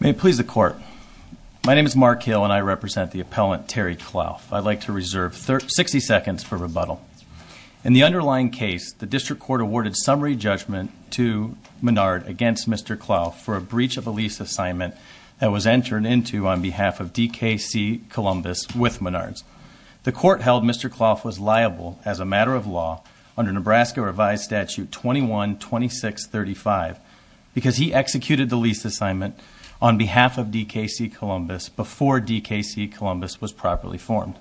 May it please the Court, my name is Mark Hill and I represent the appellant Terry Clauff. I'd like to reserve 60 seconds for rebuttal. In the underlying case, the District Court awarded summary judgment to Menard against Mr. Clauff for a breach of a lease assignment that was entered into on behalf of DKC Columbus with Menard's. The Court held Mr. Clauff was liable, as a matter of law, under Nebraska Revised Statute 21-2635 because he executed the lease assignment on behalf of DKC Columbus before DKC Columbus was properly formed.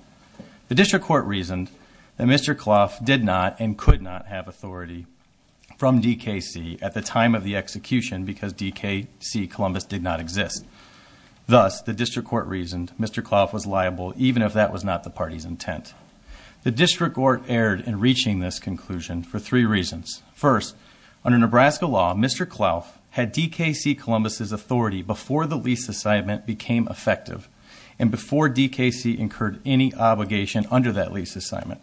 The District Court reasoned that Mr. Clauff did not and could not have authority from DKC at the time of the execution because DKC Columbus did not exist. Thus, the District Court reasoned Mr. Clauff was liable even if that was not the party's intent. The District Court erred in reaching this conclusion for three reasons. First, under Nebraska law, Mr. Clauff had DKC Columbus's authority before the lease assignment became effective and before DKC incurred any obligation under that lease assignment.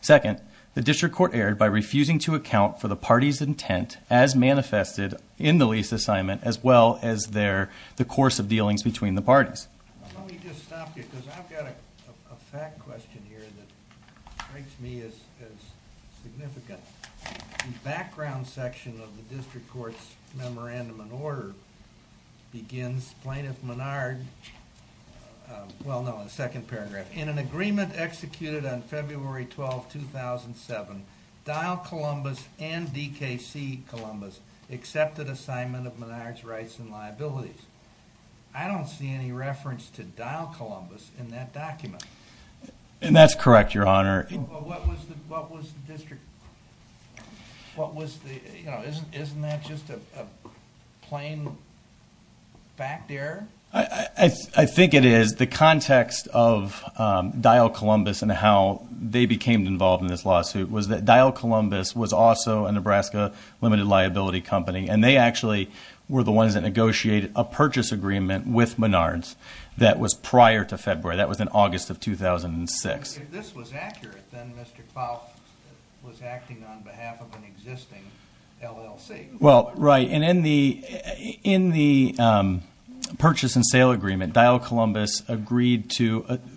Second, the District Court erred by refusing to account for the party's intent as manifested in the lease assignment as well as the course of dealings between the parties. Let me just stop you because I've got a fact question here that strikes me as significant. The background section of the District Court's Memorandum of Order begins, Plaintiff Menard, well no, the second paragraph, In an agreement executed on February 12, 2007, Dial Columbus and DKC Columbus accepted assignment of Menard's rights and liabilities. I don't see any reference to Dial Columbus in that document. And that's correct, Your Honor. But what was the District, what was the, you know, isn't that just a plain fact error? I think it is. The context of Dial Columbus and how they became involved in this lawsuit was that Dial Columbus was also a Nebraska limited liability company and they actually were the ones that negotiated a purchase agreement with Menard's that was prior to February, that was in August of 2006. If this was accurate, then Mr. Kvaal was acting on behalf of an existing LLC. Well, right, and in the purchase and sale agreement, Dial Columbus agreed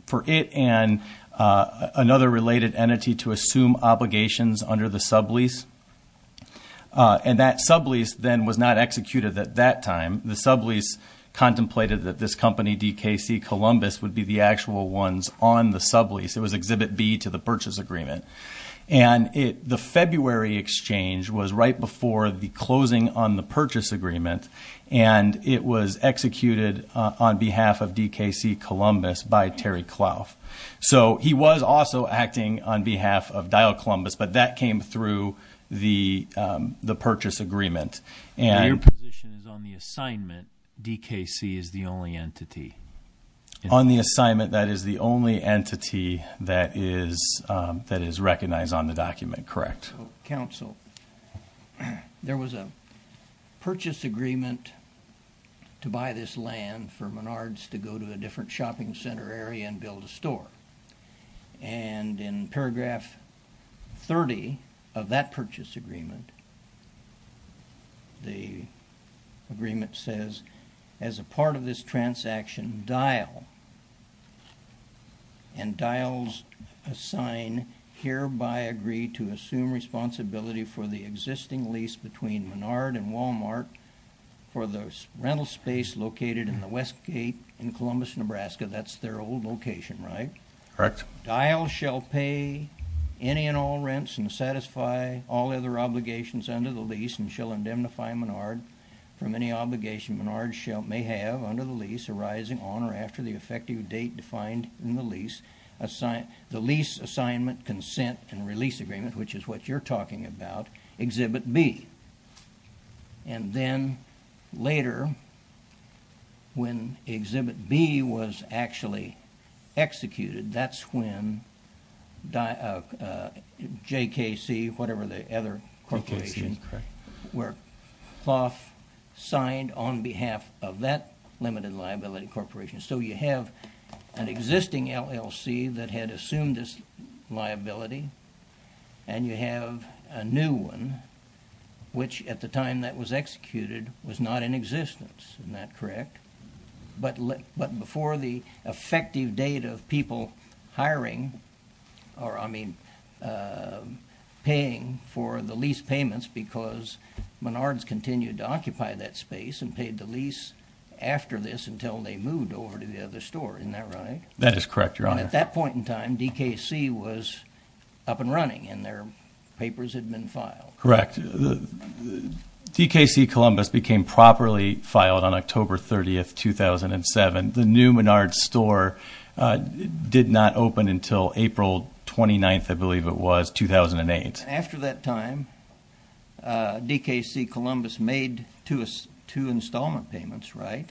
for it and another related entity to assume obligations under the sublease. And that sublease then was not executed at that time. The sublease contemplated that this company, DKC Columbus, would be the actual ones on the sublease. It was Exhibit B to the purchase agreement. And the February exchange was right before the closing on the purchase agreement and it was executed on behalf of DKC Columbus by Terry Clough. So he was also acting on behalf of Dial Columbus, but that came through the purchase agreement. And your position is on the assignment, DKC is the only entity. On the assignment, that is the only entity that is recognized on the document, correct? Counsel, there was a purchase agreement to buy this land for Menard's to go to a different shopping center area and build a store. And in paragraph 30 of that purchase agreement, the agreement says, as a part of this transaction, Dial and Dial's sign hereby agree to assume responsibility for the existing lease between Menard and Walmart for the rental space located in the West Gate in Columbus, Nebraska. That's their old location, right? Correct. Dial shall pay any and all rents and satisfy all other obligations under the lease and shall indemnify Menard from any obligation Menard may have under the lease arising on or after the effective date defined in the lease, the lease assignment consent and release agreement, which is what you're talking about, Exhibit B. And then later, when Exhibit B was actually executed, that's when JKC, whatever the other corporation, where Clough signed on behalf of that limited liability corporation. So you have an existing LLC that had assumed this liability and you have a new one, which at the time that was executed, was not in existence. Isn't that correct? But before the effective date of people hiring or, I mean, paying for the lease payments because Menard's continued to occupy that space and paid the lease after this until they moved over to the other store. Isn't that right? That is correct, Your Honor. And at that point in time, DKC was up and running and their papers had been filed. Correct. DKC Columbus became properly filed on October 30, 2007. The new Menard store did not open until April 29, I believe it was, 2008. After that time, DKC Columbus made two installment payments, right?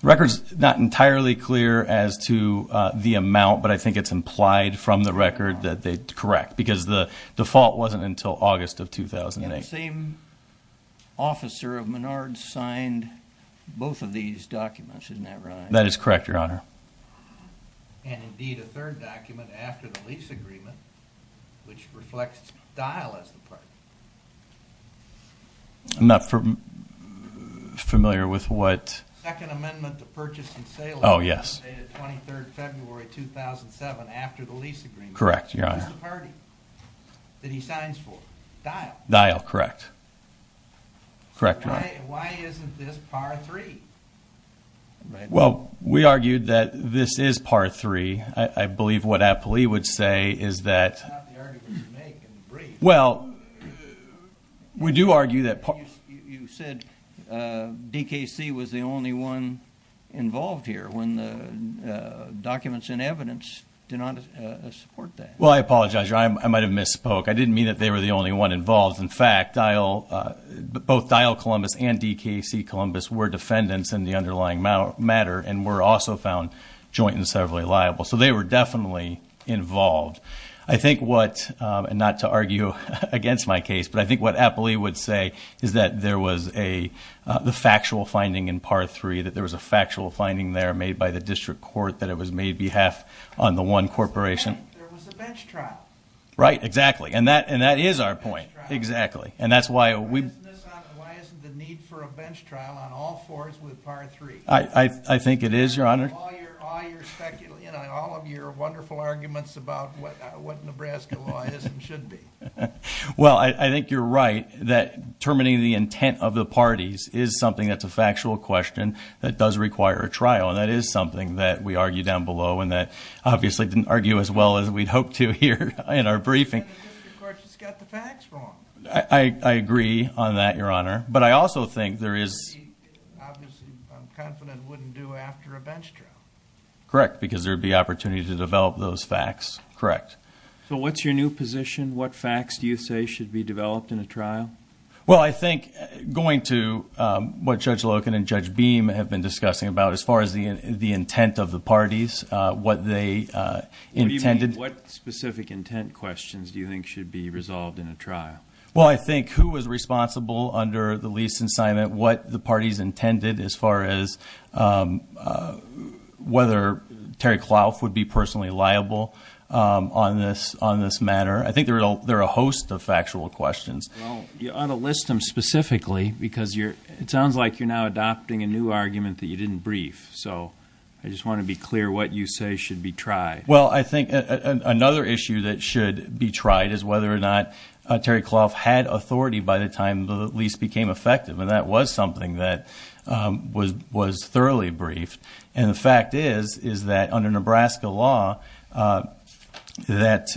The record's not entirely clear as to the amount, but I think it's implied from the record that they, correct, because the default wasn't until August of 2008. And the same officer of Menard signed both of these documents. Isn't that right? That is correct, Your Honor. And, indeed, a third document after the lease agreement, which reflects Dial as the partner. I'm not familiar with what. Second Amendment to Purchase and Sale Agreement dated February 23, 2007 after the lease agreement. Correct, Your Honor. Who's the party that he signs for? Dial. Dial, correct. Correct, Your Honor. Why isn't this Part 3? Well, we argued that this is Part 3. I believe what Appley would say is that. It's not the article you make in the brief. Well, we do argue that. You said DKC was the only one involved here when the documents and evidence did not support that. Well, I apologize, Your Honor. I might have misspoke. I didn't mean that they were the only one involved. In fact, both Dial Columbus and DKC Columbus were defendants in the underlying matter and were also found joint and severally liable. So they were definitely involved. I think what, and not to argue against my case, but I think what Appley would say is that there was the factual finding in Part 3, that there was a factual finding there made by the district court that it was made behalf on the one corporation. There was a bench trial. Right, exactly, and that is our point. Exactly. And that's why we. Why isn't the need for a bench trial on all fours with Part 3? I think it is, Your Honor. All of your wonderful arguments about what Nebraska law is and should be. Well, I think you're right that terminating the intent of the parties is something that's a factual question that does require a trial, and that is something that we argue down below and that obviously didn't argue as well as we'd hoped to here in our briefing. And the district court just got the facts wrong. I agree on that, Your Honor, but I also think there is. Obviously, I'm confident it wouldn't do after a bench trial. Correct, because there would be opportunity to develop those facts. Correct. So what's your new position? What facts do you say should be developed in a trial? Well, I think going to what Judge Loken and Judge Beam have been discussing about as far as the intent of the parties, what they intended. What specific intent questions do you think should be resolved in a trial? Well, I think who was responsible under the lease assignment, what the parties intended as far as whether Terry Clough would be personally liable on this matter. I think there are a host of factual questions. You ought to list them specifically because it sounds like you're now adopting a new argument that you didn't brief, so I just want to be clear what you say should be tried. Well, I think another issue that should be tried is whether or not Terry Clough had authority by the time the lease became effective, and that was something that was thoroughly briefed. And the fact is, is that under Nebraska law, that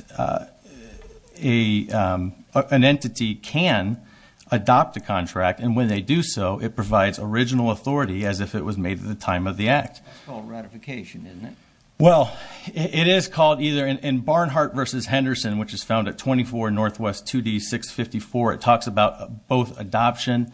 an entity can adopt a contract, and when they do so, it provides original authority as if it was made at the time of the act. That's called ratification, isn't it? Well, it is called either. In Barnhart v. Henderson, which is found at 24 Northwest 2D 654, it talks about both adoption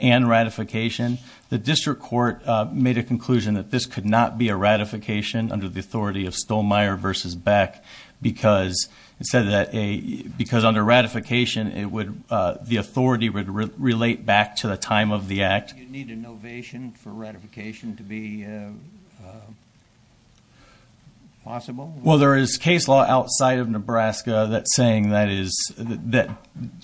and ratification. The district court made a conclusion that this could not be a ratification under the authority of Stollmeyer v. Beck because under ratification, the authority would relate back to the time of the act. Do you need an ovation for ratification to be possible? Well, there is case law outside of Nebraska that's saying that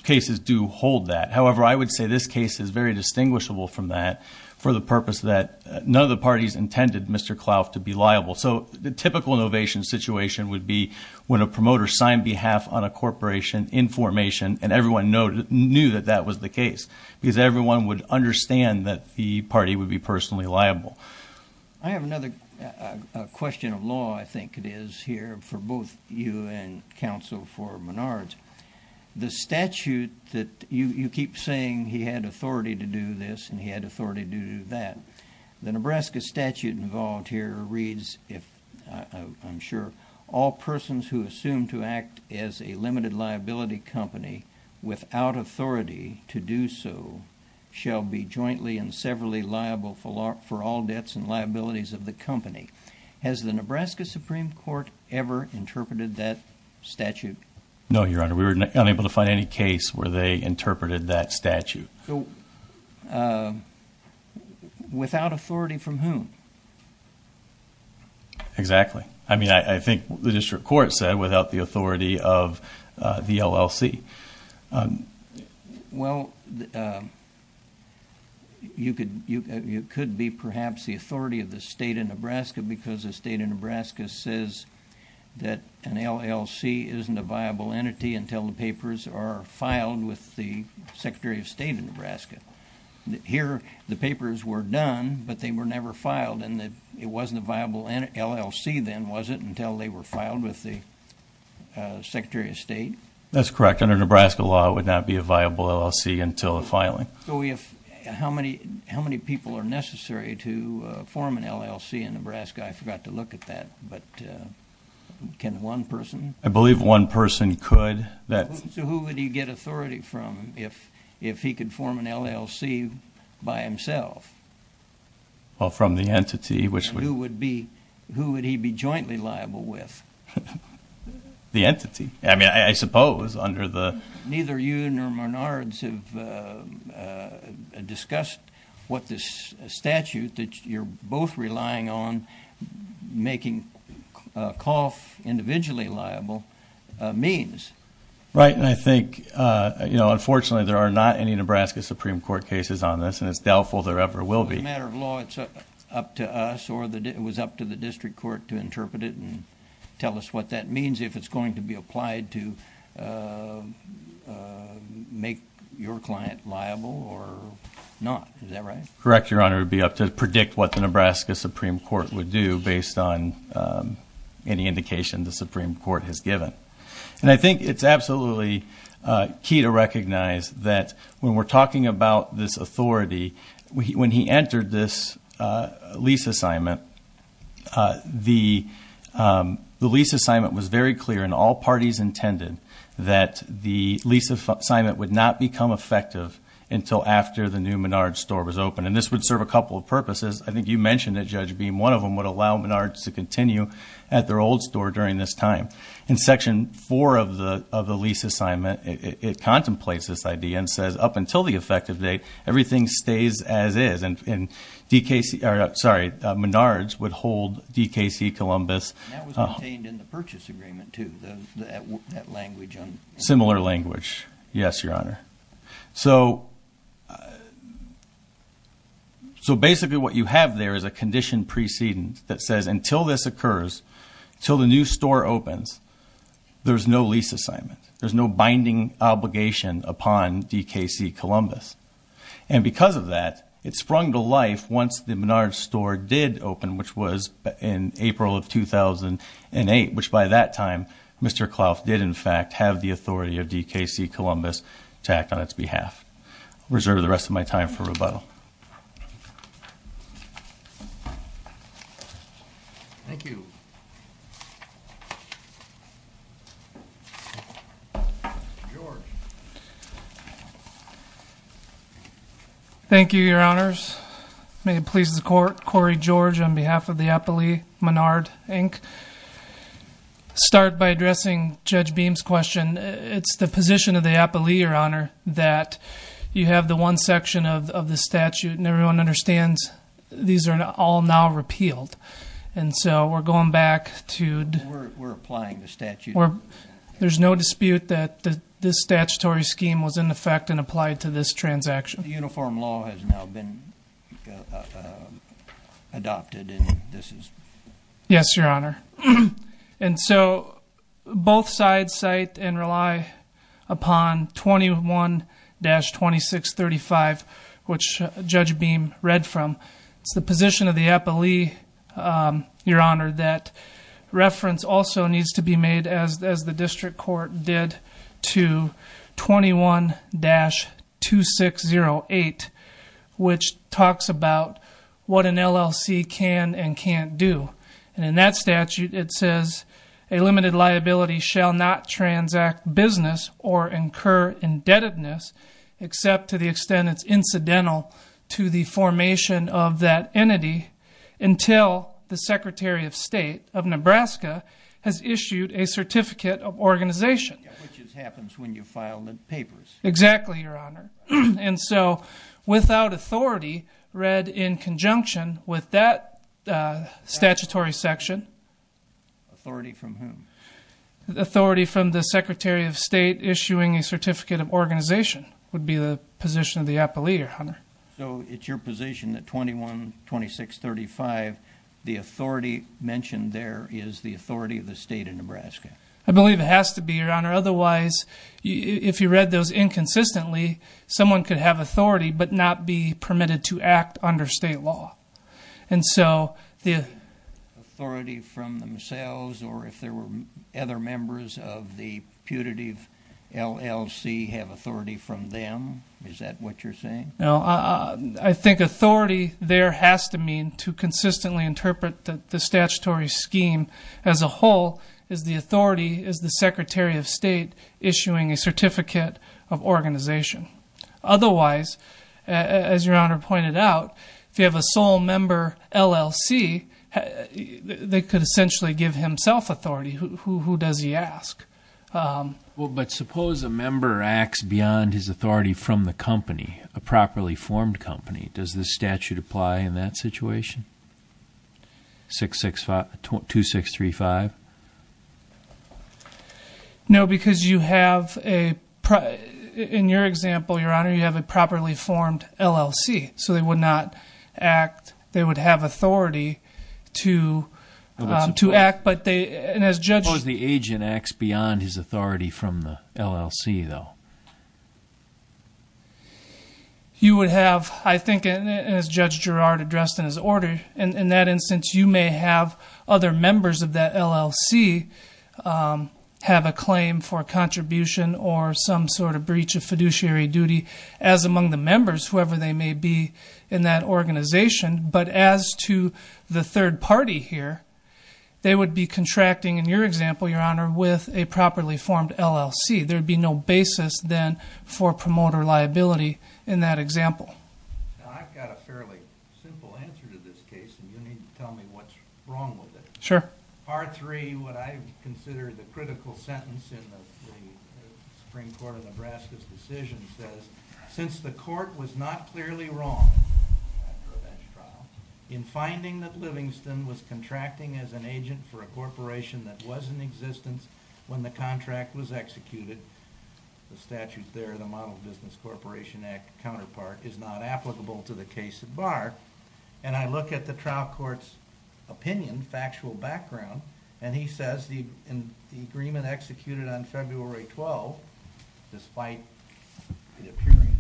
cases do hold that. However, I would say this case is very distinguishable from that for the purpose that none of the parties intended Mr. Clough to be liable. So the typical ovation situation would be when a promoter signed behalf on a corporation in formation and everyone knew that that was the case because everyone would understand that the party would be personally liable. I have another question of law, I think it is, here for both you and counsel for Menards. The statute that you keep saying he had authority to do this and he had authority to do that. The Nebraska statute involved here reads, I'm sure, all persons who assume to act as a limited liability company without authority to do so shall be jointly and severally liable for all debts and liabilities of the company. Has the Nebraska Supreme Court ever interpreted that statute? No, Your Honor. We were unable to find any case where they interpreted that statute. Without authority from whom? Exactly. I mean, I think the district court said without the authority of the LLC. Well, it could be perhaps the authority of the state of Nebraska because the state of Nebraska says that an LLC isn't a viable entity until the papers are filed with the Secretary of State of Nebraska. Here, the papers were done, but they were never filed and it wasn't a viable LLC then, was it, until they were filed with the Secretary of State? That's correct. Under Nebraska law, it would not be a viable LLC until the filing. So how many people are necessary to form an LLC in Nebraska? I forgot to look at that, but can one person? I believe one person could. So who would he get authority from if he could form an LLC by himself? Well, from the entity, which would be... Who would he be jointly liable with? I mean, I suppose under the... Neither you nor Menards have discussed what this statute that you're both relying on making a COF individually liable means. Right, and I think, you know, unfortunately there are not any Nebraska Supreme Court cases on this and it's doubtful there ever will be. As a matter of law, it's up to us or it was up to the district court to interpret it and tell us what that means. If it's going to be applied to make your client liable or not. Is that right? Correct, Your Honor. It would be up to predict what the Nebraska Supreme Court would do based on any indication the Supreme Court has given. And I think it's absolutely key to recognize that when we're talking about this authority, when he entered this lease assignment, the lease assignment was very clear and all parties intended that the lease assignment would not become effective until after the new Menards store was open. And this would serve a couple of purposes. I think you mentioned that Judge Beam, one of them would allow Menards to continue at their old store during this time. In Section 4 of the lease assignment, it contemplates this idea and says up until the effective date, everything stays as is. And Menards would hold DKC Columbus. That was contained in the purchase agreement too, that language. Similar language. Yes, Your Honor. So basically what you have there is a condition precedence that says until this occurs, until the new store opens, there's no lease assignment. There's no binding obligation upon DKC Columbus. And because of that, it sprung to life once the Menards store did open, which was in April of 2008, which by that time, Mr. Klauff did in fact have the authority of DKC Columbus to act on its behalf. I'll reserve the rest of my time for rebuttal. Thank you. Mr. George. Thank you, Your Honors. May it please the Court. Cory George on behalf of the Appalachee Menard, Inc. I'll start by addressing Judge Beam's question. It's the position of the Appalachee, Your Honor, that you have the one section of the statute, and everyone understands these are all now repealed. And so we're going back to the statute. We're applying the statute. There's no dispute that this statutory scheme was in effect and applied to this transaction. The uniform law has now been adopted, and this is? Yes, Your Honor. And so both sides cite and rely upon 21-2635, which Judge Beam read from. It's the position of the Appalachee, Your Honor, that reference also needs to be made, as the district court did, to 21-2608, which talks about what an LLC can and can't do. And in that statute it says, a limited liability shall not transact business or incur indebtedness except to the extent it's incidental to the formation of that entity until the Secretary of State of Nebraska has issued a certificate of organization. Which happens when you file the papers. Exactly, Your Honor. And so without authority read in conjunction with that statutory section. Authority from whom? Authority from the Secretary of State would be the position of the Appalachee, Your Honor. So it's your position that 21-2635, the authority mentioned there is the authority of the state of Nebraska. I believe it has to be, Your Honor. Otherwise, if you read those inconsistently, someone could have authority but not be permitted to act under state law. And so the... Authority from themselves or if there were other members of the putative LLC have authority from them? Is that what you're saying? No, I think authority there has to mean to consistently interpret the statutory scheme as a whole as the authority is the Secretary of State issuing a certificate of organization. Otherwise, as Your Honor pointed out, if you have a sole member LLC, they could essentially give himself authority. Who does he ask? But suppose a member acts beyond his authority from the company, a properly formed company, does the statute apply in that situation? 2635? No, because you have a... In your example, Your Honor, you have a properly formed LLC. So they would not act... They would have authority to act, but they... And as Judge... Suppose the agent acts beyond his authority from the LLC, though. You would have, I think, as Judge Girard addressed in his order, in that instance, you may have other members of that LLC have a claim for contribution or some sort of breach of fiduciary duty as among the members, whoever they may be in that organization. But as to the third party here, they would be contracting, in your example, Your Honor, with a properly formed LLC. There would be no basis, then, for promoter liability in that example. Now, I've got a fairly simple answer to this case, and you need to tell me what's wrong with it. Sure. Part 3, what I consider the critical sentence in the Supreme Court of Nebraska's decision says, since the court was not clearly wrong after a bench trial in finding that Livingston was contracting as an agent for a corporation that was in existence when the contract was executed, the statute there, the Model Business Corporation Act counterpart, is not applicable to the case at bar. And I look at the trial court's opinion, factual background, and he says the agreement executed on February 12th, despite the appearance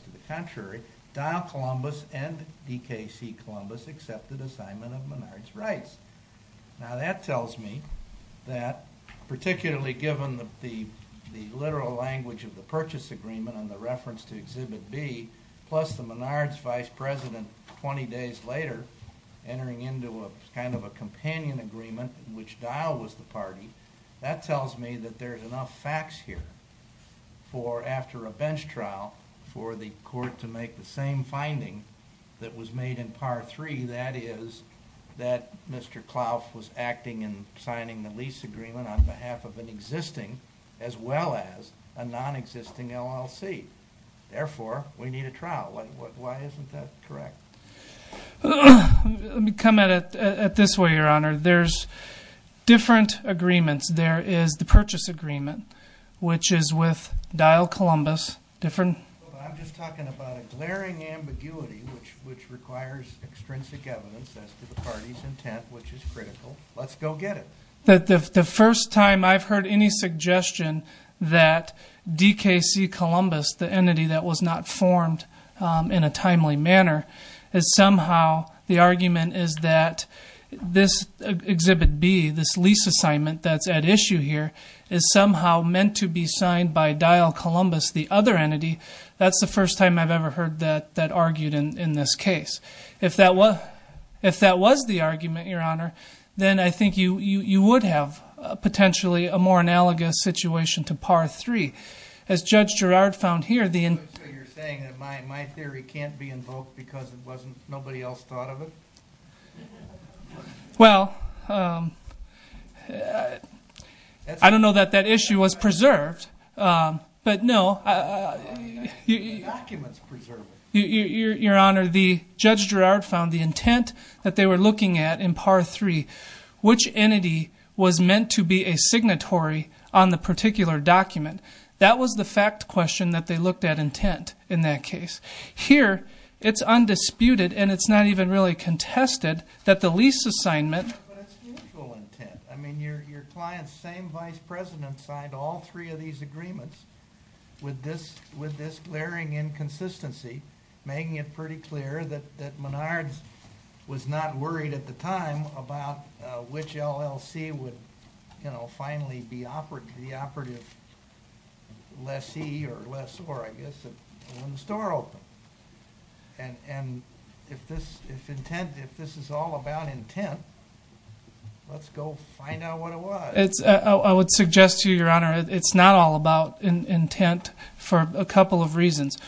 to the contrary, Donald Columbus and D.K.C. Columbus accepted assignment of Menard's rights. Now, that tells me that, particularly given the literal language of the purchase agreement and the reference to Exhibit B, plus the Menard's vice president 20 days later entering into a kind of a companion agreement, which Dow was the party, that tells me that there's enough facts here for, after a bench trial, for the court to make the same finding that was made in Part 3, that is, that Mr. Clough was acting in signing the lease agreement on behalf of an existing, as well as a non-existing LLC. Therefore, we need a trial. Why isn't that correct? Let me come at it this way, Your Honor. There's different agreements. There is the purchase agreement, which is with Dow Columbus. I'm just talking about a glaring ambiguity which requires extrinsic evidence as to the party's intent, which is critical. Let's go get it. The first time I've heard any suggestion that DKC Columbus, the entity that was not formed in a timely manner, is somehow the argument is that this Exhibit B, this lease assignment that's at issue here, is somehow meant to be signed by Dow Columbus, the other entity, that's the first time I've ever heard that argued in this case. If that was the argument, Your Honor, then I think you would have potentially a more analogous situation to Par 3. As Judge Girard found here, the intent. So you're saying that my theory can't be invoked because nobody else thought of it? Well, I don't know that that issue was preserved, but no. The documents preserve it. Your Honor, Judge Girard found the intent that they were looking at in Par 3, which entity was meant to be a signatory on the particular document. That was the fact question that they looked at intent in that case. Here, it's undisputed, and it's not even really contested, that the lease assignment. But it's mutual intent. I mean, your client's same vice president signed all three of these agreements with this glaring inconsistency, making it pretty clear that Menards was not worried at the time about which LLC would finally be the operative lessee or lessor, I guess, when the store opened. And if this is all about intent, let's go find out what it was. I would suggest to you, Your Honor, it's not all about intent for a couple of reasons.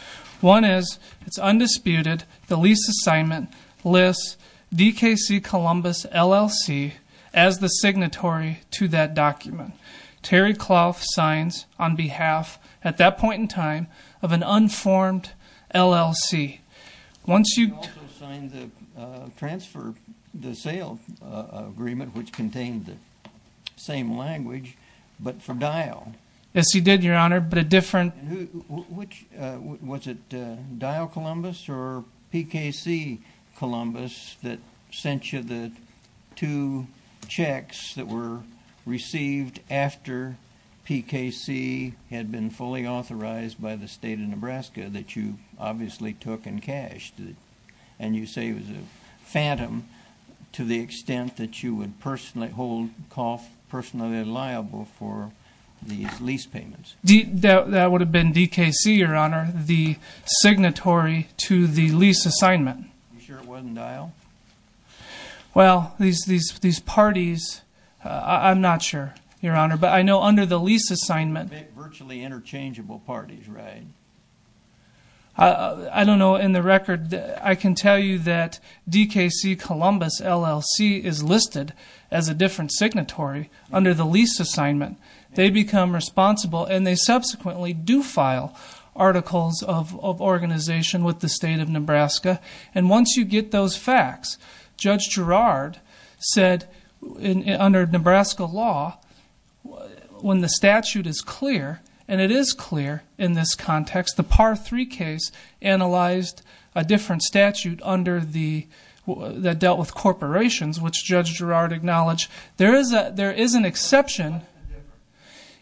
One is it's undisputed the lease assignment lists DKC Columbus LLC as the signatory to that document. Terry Clough signs on behalf, at that point in time, of an unformed LLC. He also signed the sale agreement, which contained the same language, but for dial. Yes, he did, Your Honor, but a different. Was it dial Columbus or PKC Columbus that sent you the two checks that were received after PKC had been fully authorized by the State of Nebraska that you obviously took and cashed, and you say it was a phantom to the extent that you would personally hold Clough personally liable for these lease payments? That would have been DKC, Your Honor, the signatory to the lease assignment. Are you sure it wasn't dial? Well, these parties, I'm not sure, Your Honor, but I know under the lease assignment. Virtually interchangeable parties, right? I don't know. In the record, I can tell you that DKC Columbus LLC is listed as a different signatory under the lease assignment. They become responsible, and they subsequently do file articles of organization with the State of Nebraska. And once you get those facts, Judge Girard said under Nebraska law, when the statute is clear, and it is clear in this context, the Par 3 case analyzed a different statute that dealt with corporations, which Judge Girard acknowledged. There is an exception.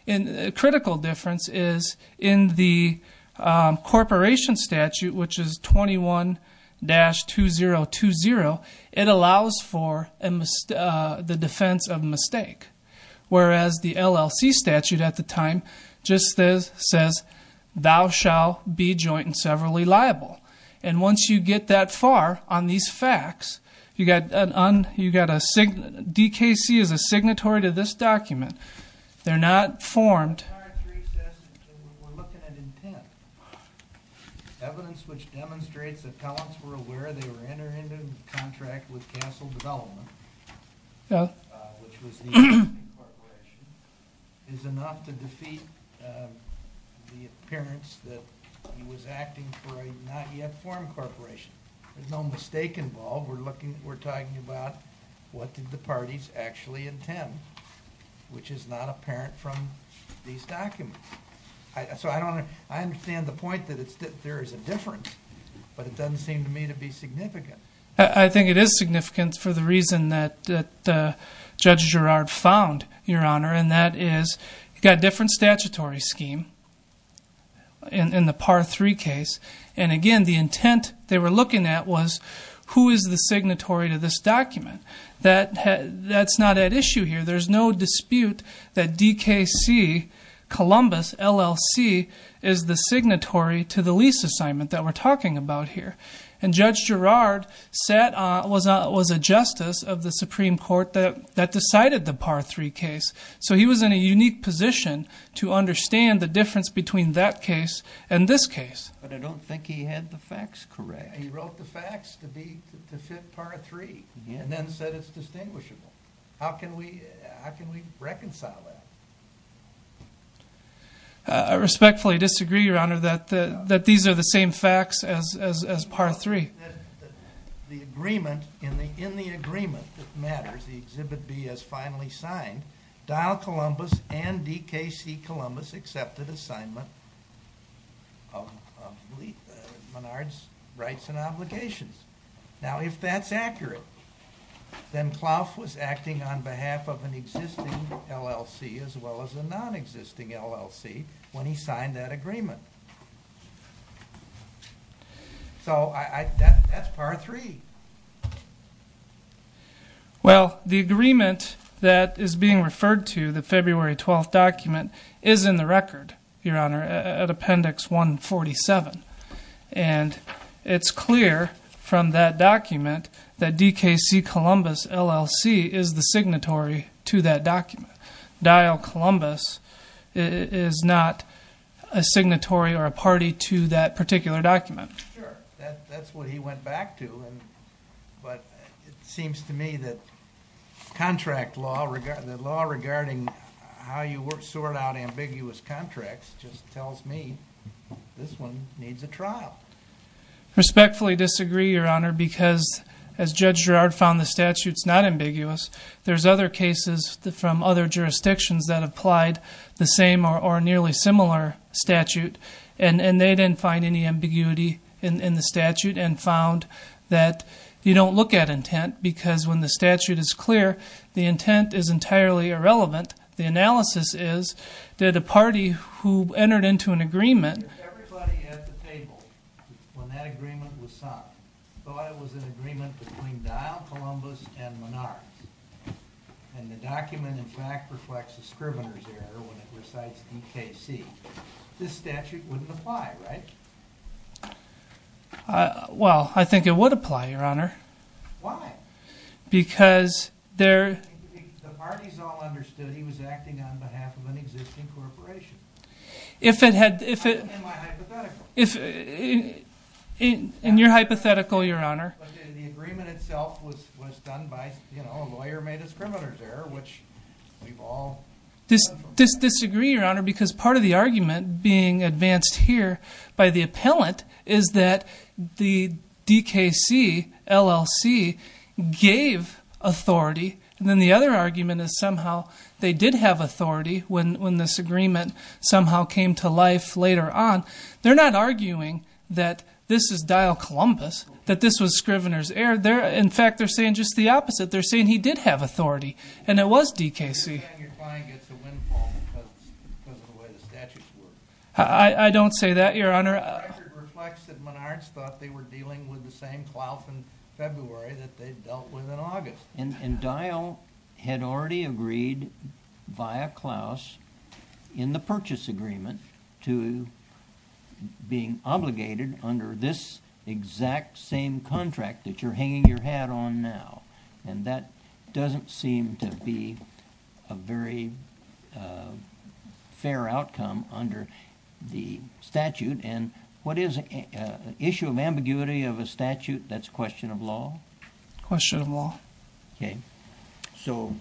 A critical difference is in the corporation statute, which is 21-2020, it allows for the defense of mistake. Whereas the LLC statute at the time just says, thou shall be joint and severally liable. And once you get that far on these facts, DKC is a signatory to this document. They're not formed. The Par 3 says that we're looking at intent. Evidence which demonstrates that talents were aware they were entering into a contract with Castle Development, which was the corporation, is enough to defeat the appearance that he was acting for a not yet formed corporation. There's no mistake involved. We're talking about what did the parties actually intend, which is not apparent from these documents. So I understand the point that there is a difference, but it doesn't seem to me to be significant. I think it is significant for the reason that Judge Girard found, Your Honor, and that is you've got a different statutory scheme in the Par 3 case. And, again, the intent they were looking at was who is the signatory to this document. That's not at issue here. There's no dispute that DKC, Columbus, LLC, is the signatory to the lease assignment that we're talking about here. And Judge Girard was a justice of the Supreme Court that decided the Par 3 case. So he was in a unique position to understand the difference between that case and this case. But I don't think he had the facts correct. He wrote the facts to fit Par 3 and then said it's distinguishable. How can we reconcile that? I respectfully disagree, Your Honor, that these are the same facts as Par 3. The agreement, in the agreement that matters, the Exhibit B is finally signed. Dial Columbus and DKC Columbus accepted assignment of Menard's rights and obligations. Now, if that's accurate, then Klauff was acting on behalf of an existing LLC as well as a nonexisting LLC when he signed that agreement. So that's Par 3. Well, the agreement that is being referred to, the February 12th document, is in the record, Your Honor, at Appendix 147. And it's clear from that document that DKC Columbus LLC is the signatory to that document. Dial Columbus is not a signatory or a party to that particular document. Sure, that's what he went back to. But it seems to me that contract law, the law regarding how you sort out ambiguous contracts just tells me this one needs a trial. Respectfully disagree, Your Honor, because as Judge Girard found the statute's not ambiguous, there's other cases from other jurisdictions that applied the same or nearly similar statute, and they didn't find any ambiguity in the statute and found that you don't look at intent because when the statute is clear, the intent is entirely irrelevant. The analysis is that a party who entered into an agreement... If everybody at the table when that agreement was signed thought it was an agreement between Dial Columbus and Menard and the document, in fact, reflects the Scrivener's Error when it recites DKC, this statute wouldn't apply, right? Well, I think it would apply, Your Honor. Why? Because there... The parties all understood he was acting on behalf of an existing corporation. If it had... In my hypothetical. In your hypothetical, Your Honor. But the agreement itself was done by, you know, a lawyer made a Scrivener's Error, which we've all... I disagree, Your Honor, because part of the argument being advanced here by the appellant is that the DKC, LLC, gave authority, and then the other argument is somehow they did have authority when this agreement somehow came to life later on. They're not arguing that this is Dial Columbus, that this was Scrivener's Error. In fact, they're saying just the opposite. They're saying he did have authority and it was DKC. They're saying your client gets a windfall because of the way the statutes work. I don't say that, Your Honor. The record reflects that Menards thought they were dealing with the same Klaus in February that they'd dealt with in August. And Dial had already agreed via Klaus in the purchase agreement to being obligated under this exact same contract that you're hanging your hat on now, and that doesn't seem to be a very fair outcome under the statute. And what is an issue of ambiguity of a statute? That's a question of law? Question of law. Okay. So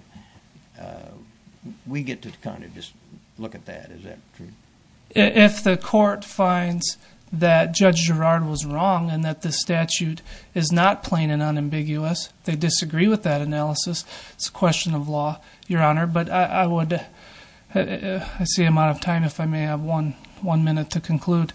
we get to kind of just look at that. Is that true? If the court finds that Judge Girard was wrong and that the statute is not plain and unambiguous, they disagree with that analysis, it's a question of law, Your Honor. But I see I'm out of time. If I may have one minute to conclude.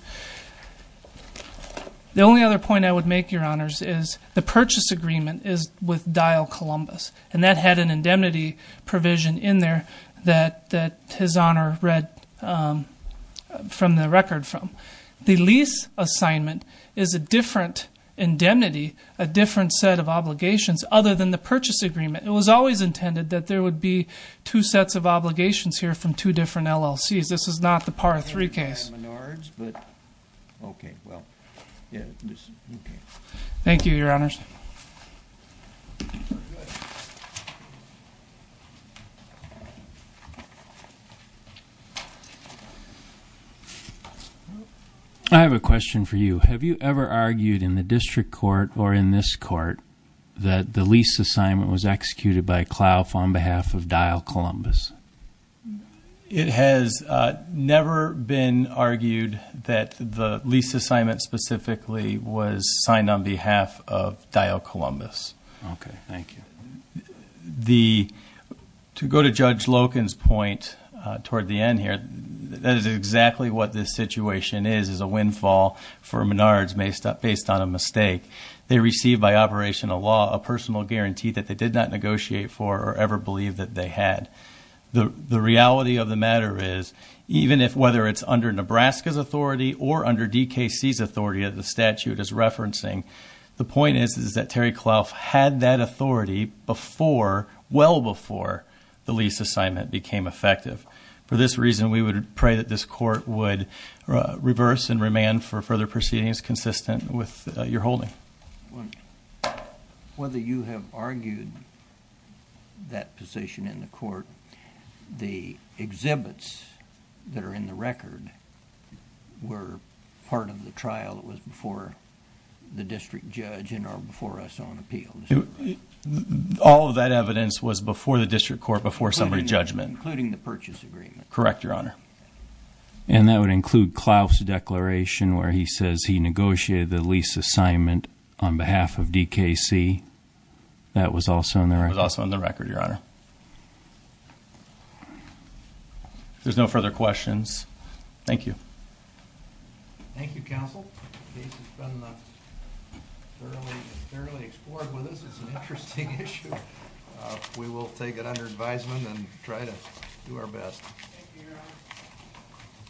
The only other point I would make, Your Honors, is the purchase agreement is with Dial Columbus, and that had an indemnity provision in there that his Honor read from the record from. The lease assignment is a different indemnity, a different set of obligations other than the purchase agreement. It was always intended that there would be two sets of obligations here from two different LLCs. This is not the Par 3 case. Okay. Well, yeah. Okay. Thank you, Your Honors. I have a question for you. Have you ever argued in the district court or in this court that the lease assignment was executed by Clough on behalf of Dial Columbus? It has never been argued that the lease assignment specifically was signed on behalf of Dial Columbus. Okay. Thank you. To go to Judge Loken's point toward the end here, that is exactly what this situation is, is a windfall for Menards based on a mistake. They received by operational law a personal guarantee that they did not negotiate for or ever believe that they had. The reality of the matter is even if whether it's under Nebraska's authority or under DKC's authority as the statute is referencing, the point is that Terry Clough had that authority before, well before the lease assignment became effective. For this reason, we would pray that this court would reverse and remand for further proceedings consistent with your holding. Whether you have argued that position in the court, the exhibits that are in the record were part of the trial that was before the district judge and are before us on appeal. All of that evidence was before the district court before somebody's judgment. Including the purchase agreement. Correct, Your Honor. That would include Clough's declaration where he says he negotiated the lease assignment on behalf of DKC. That was also in the record. That was also in the record, Your Honor. If there's no further questions, thank you. Thank you, counsel. This has been thoroughly explored with us. It's an interesting issue. We will take it under advisement and try to do our best. Thank you, Your Honor.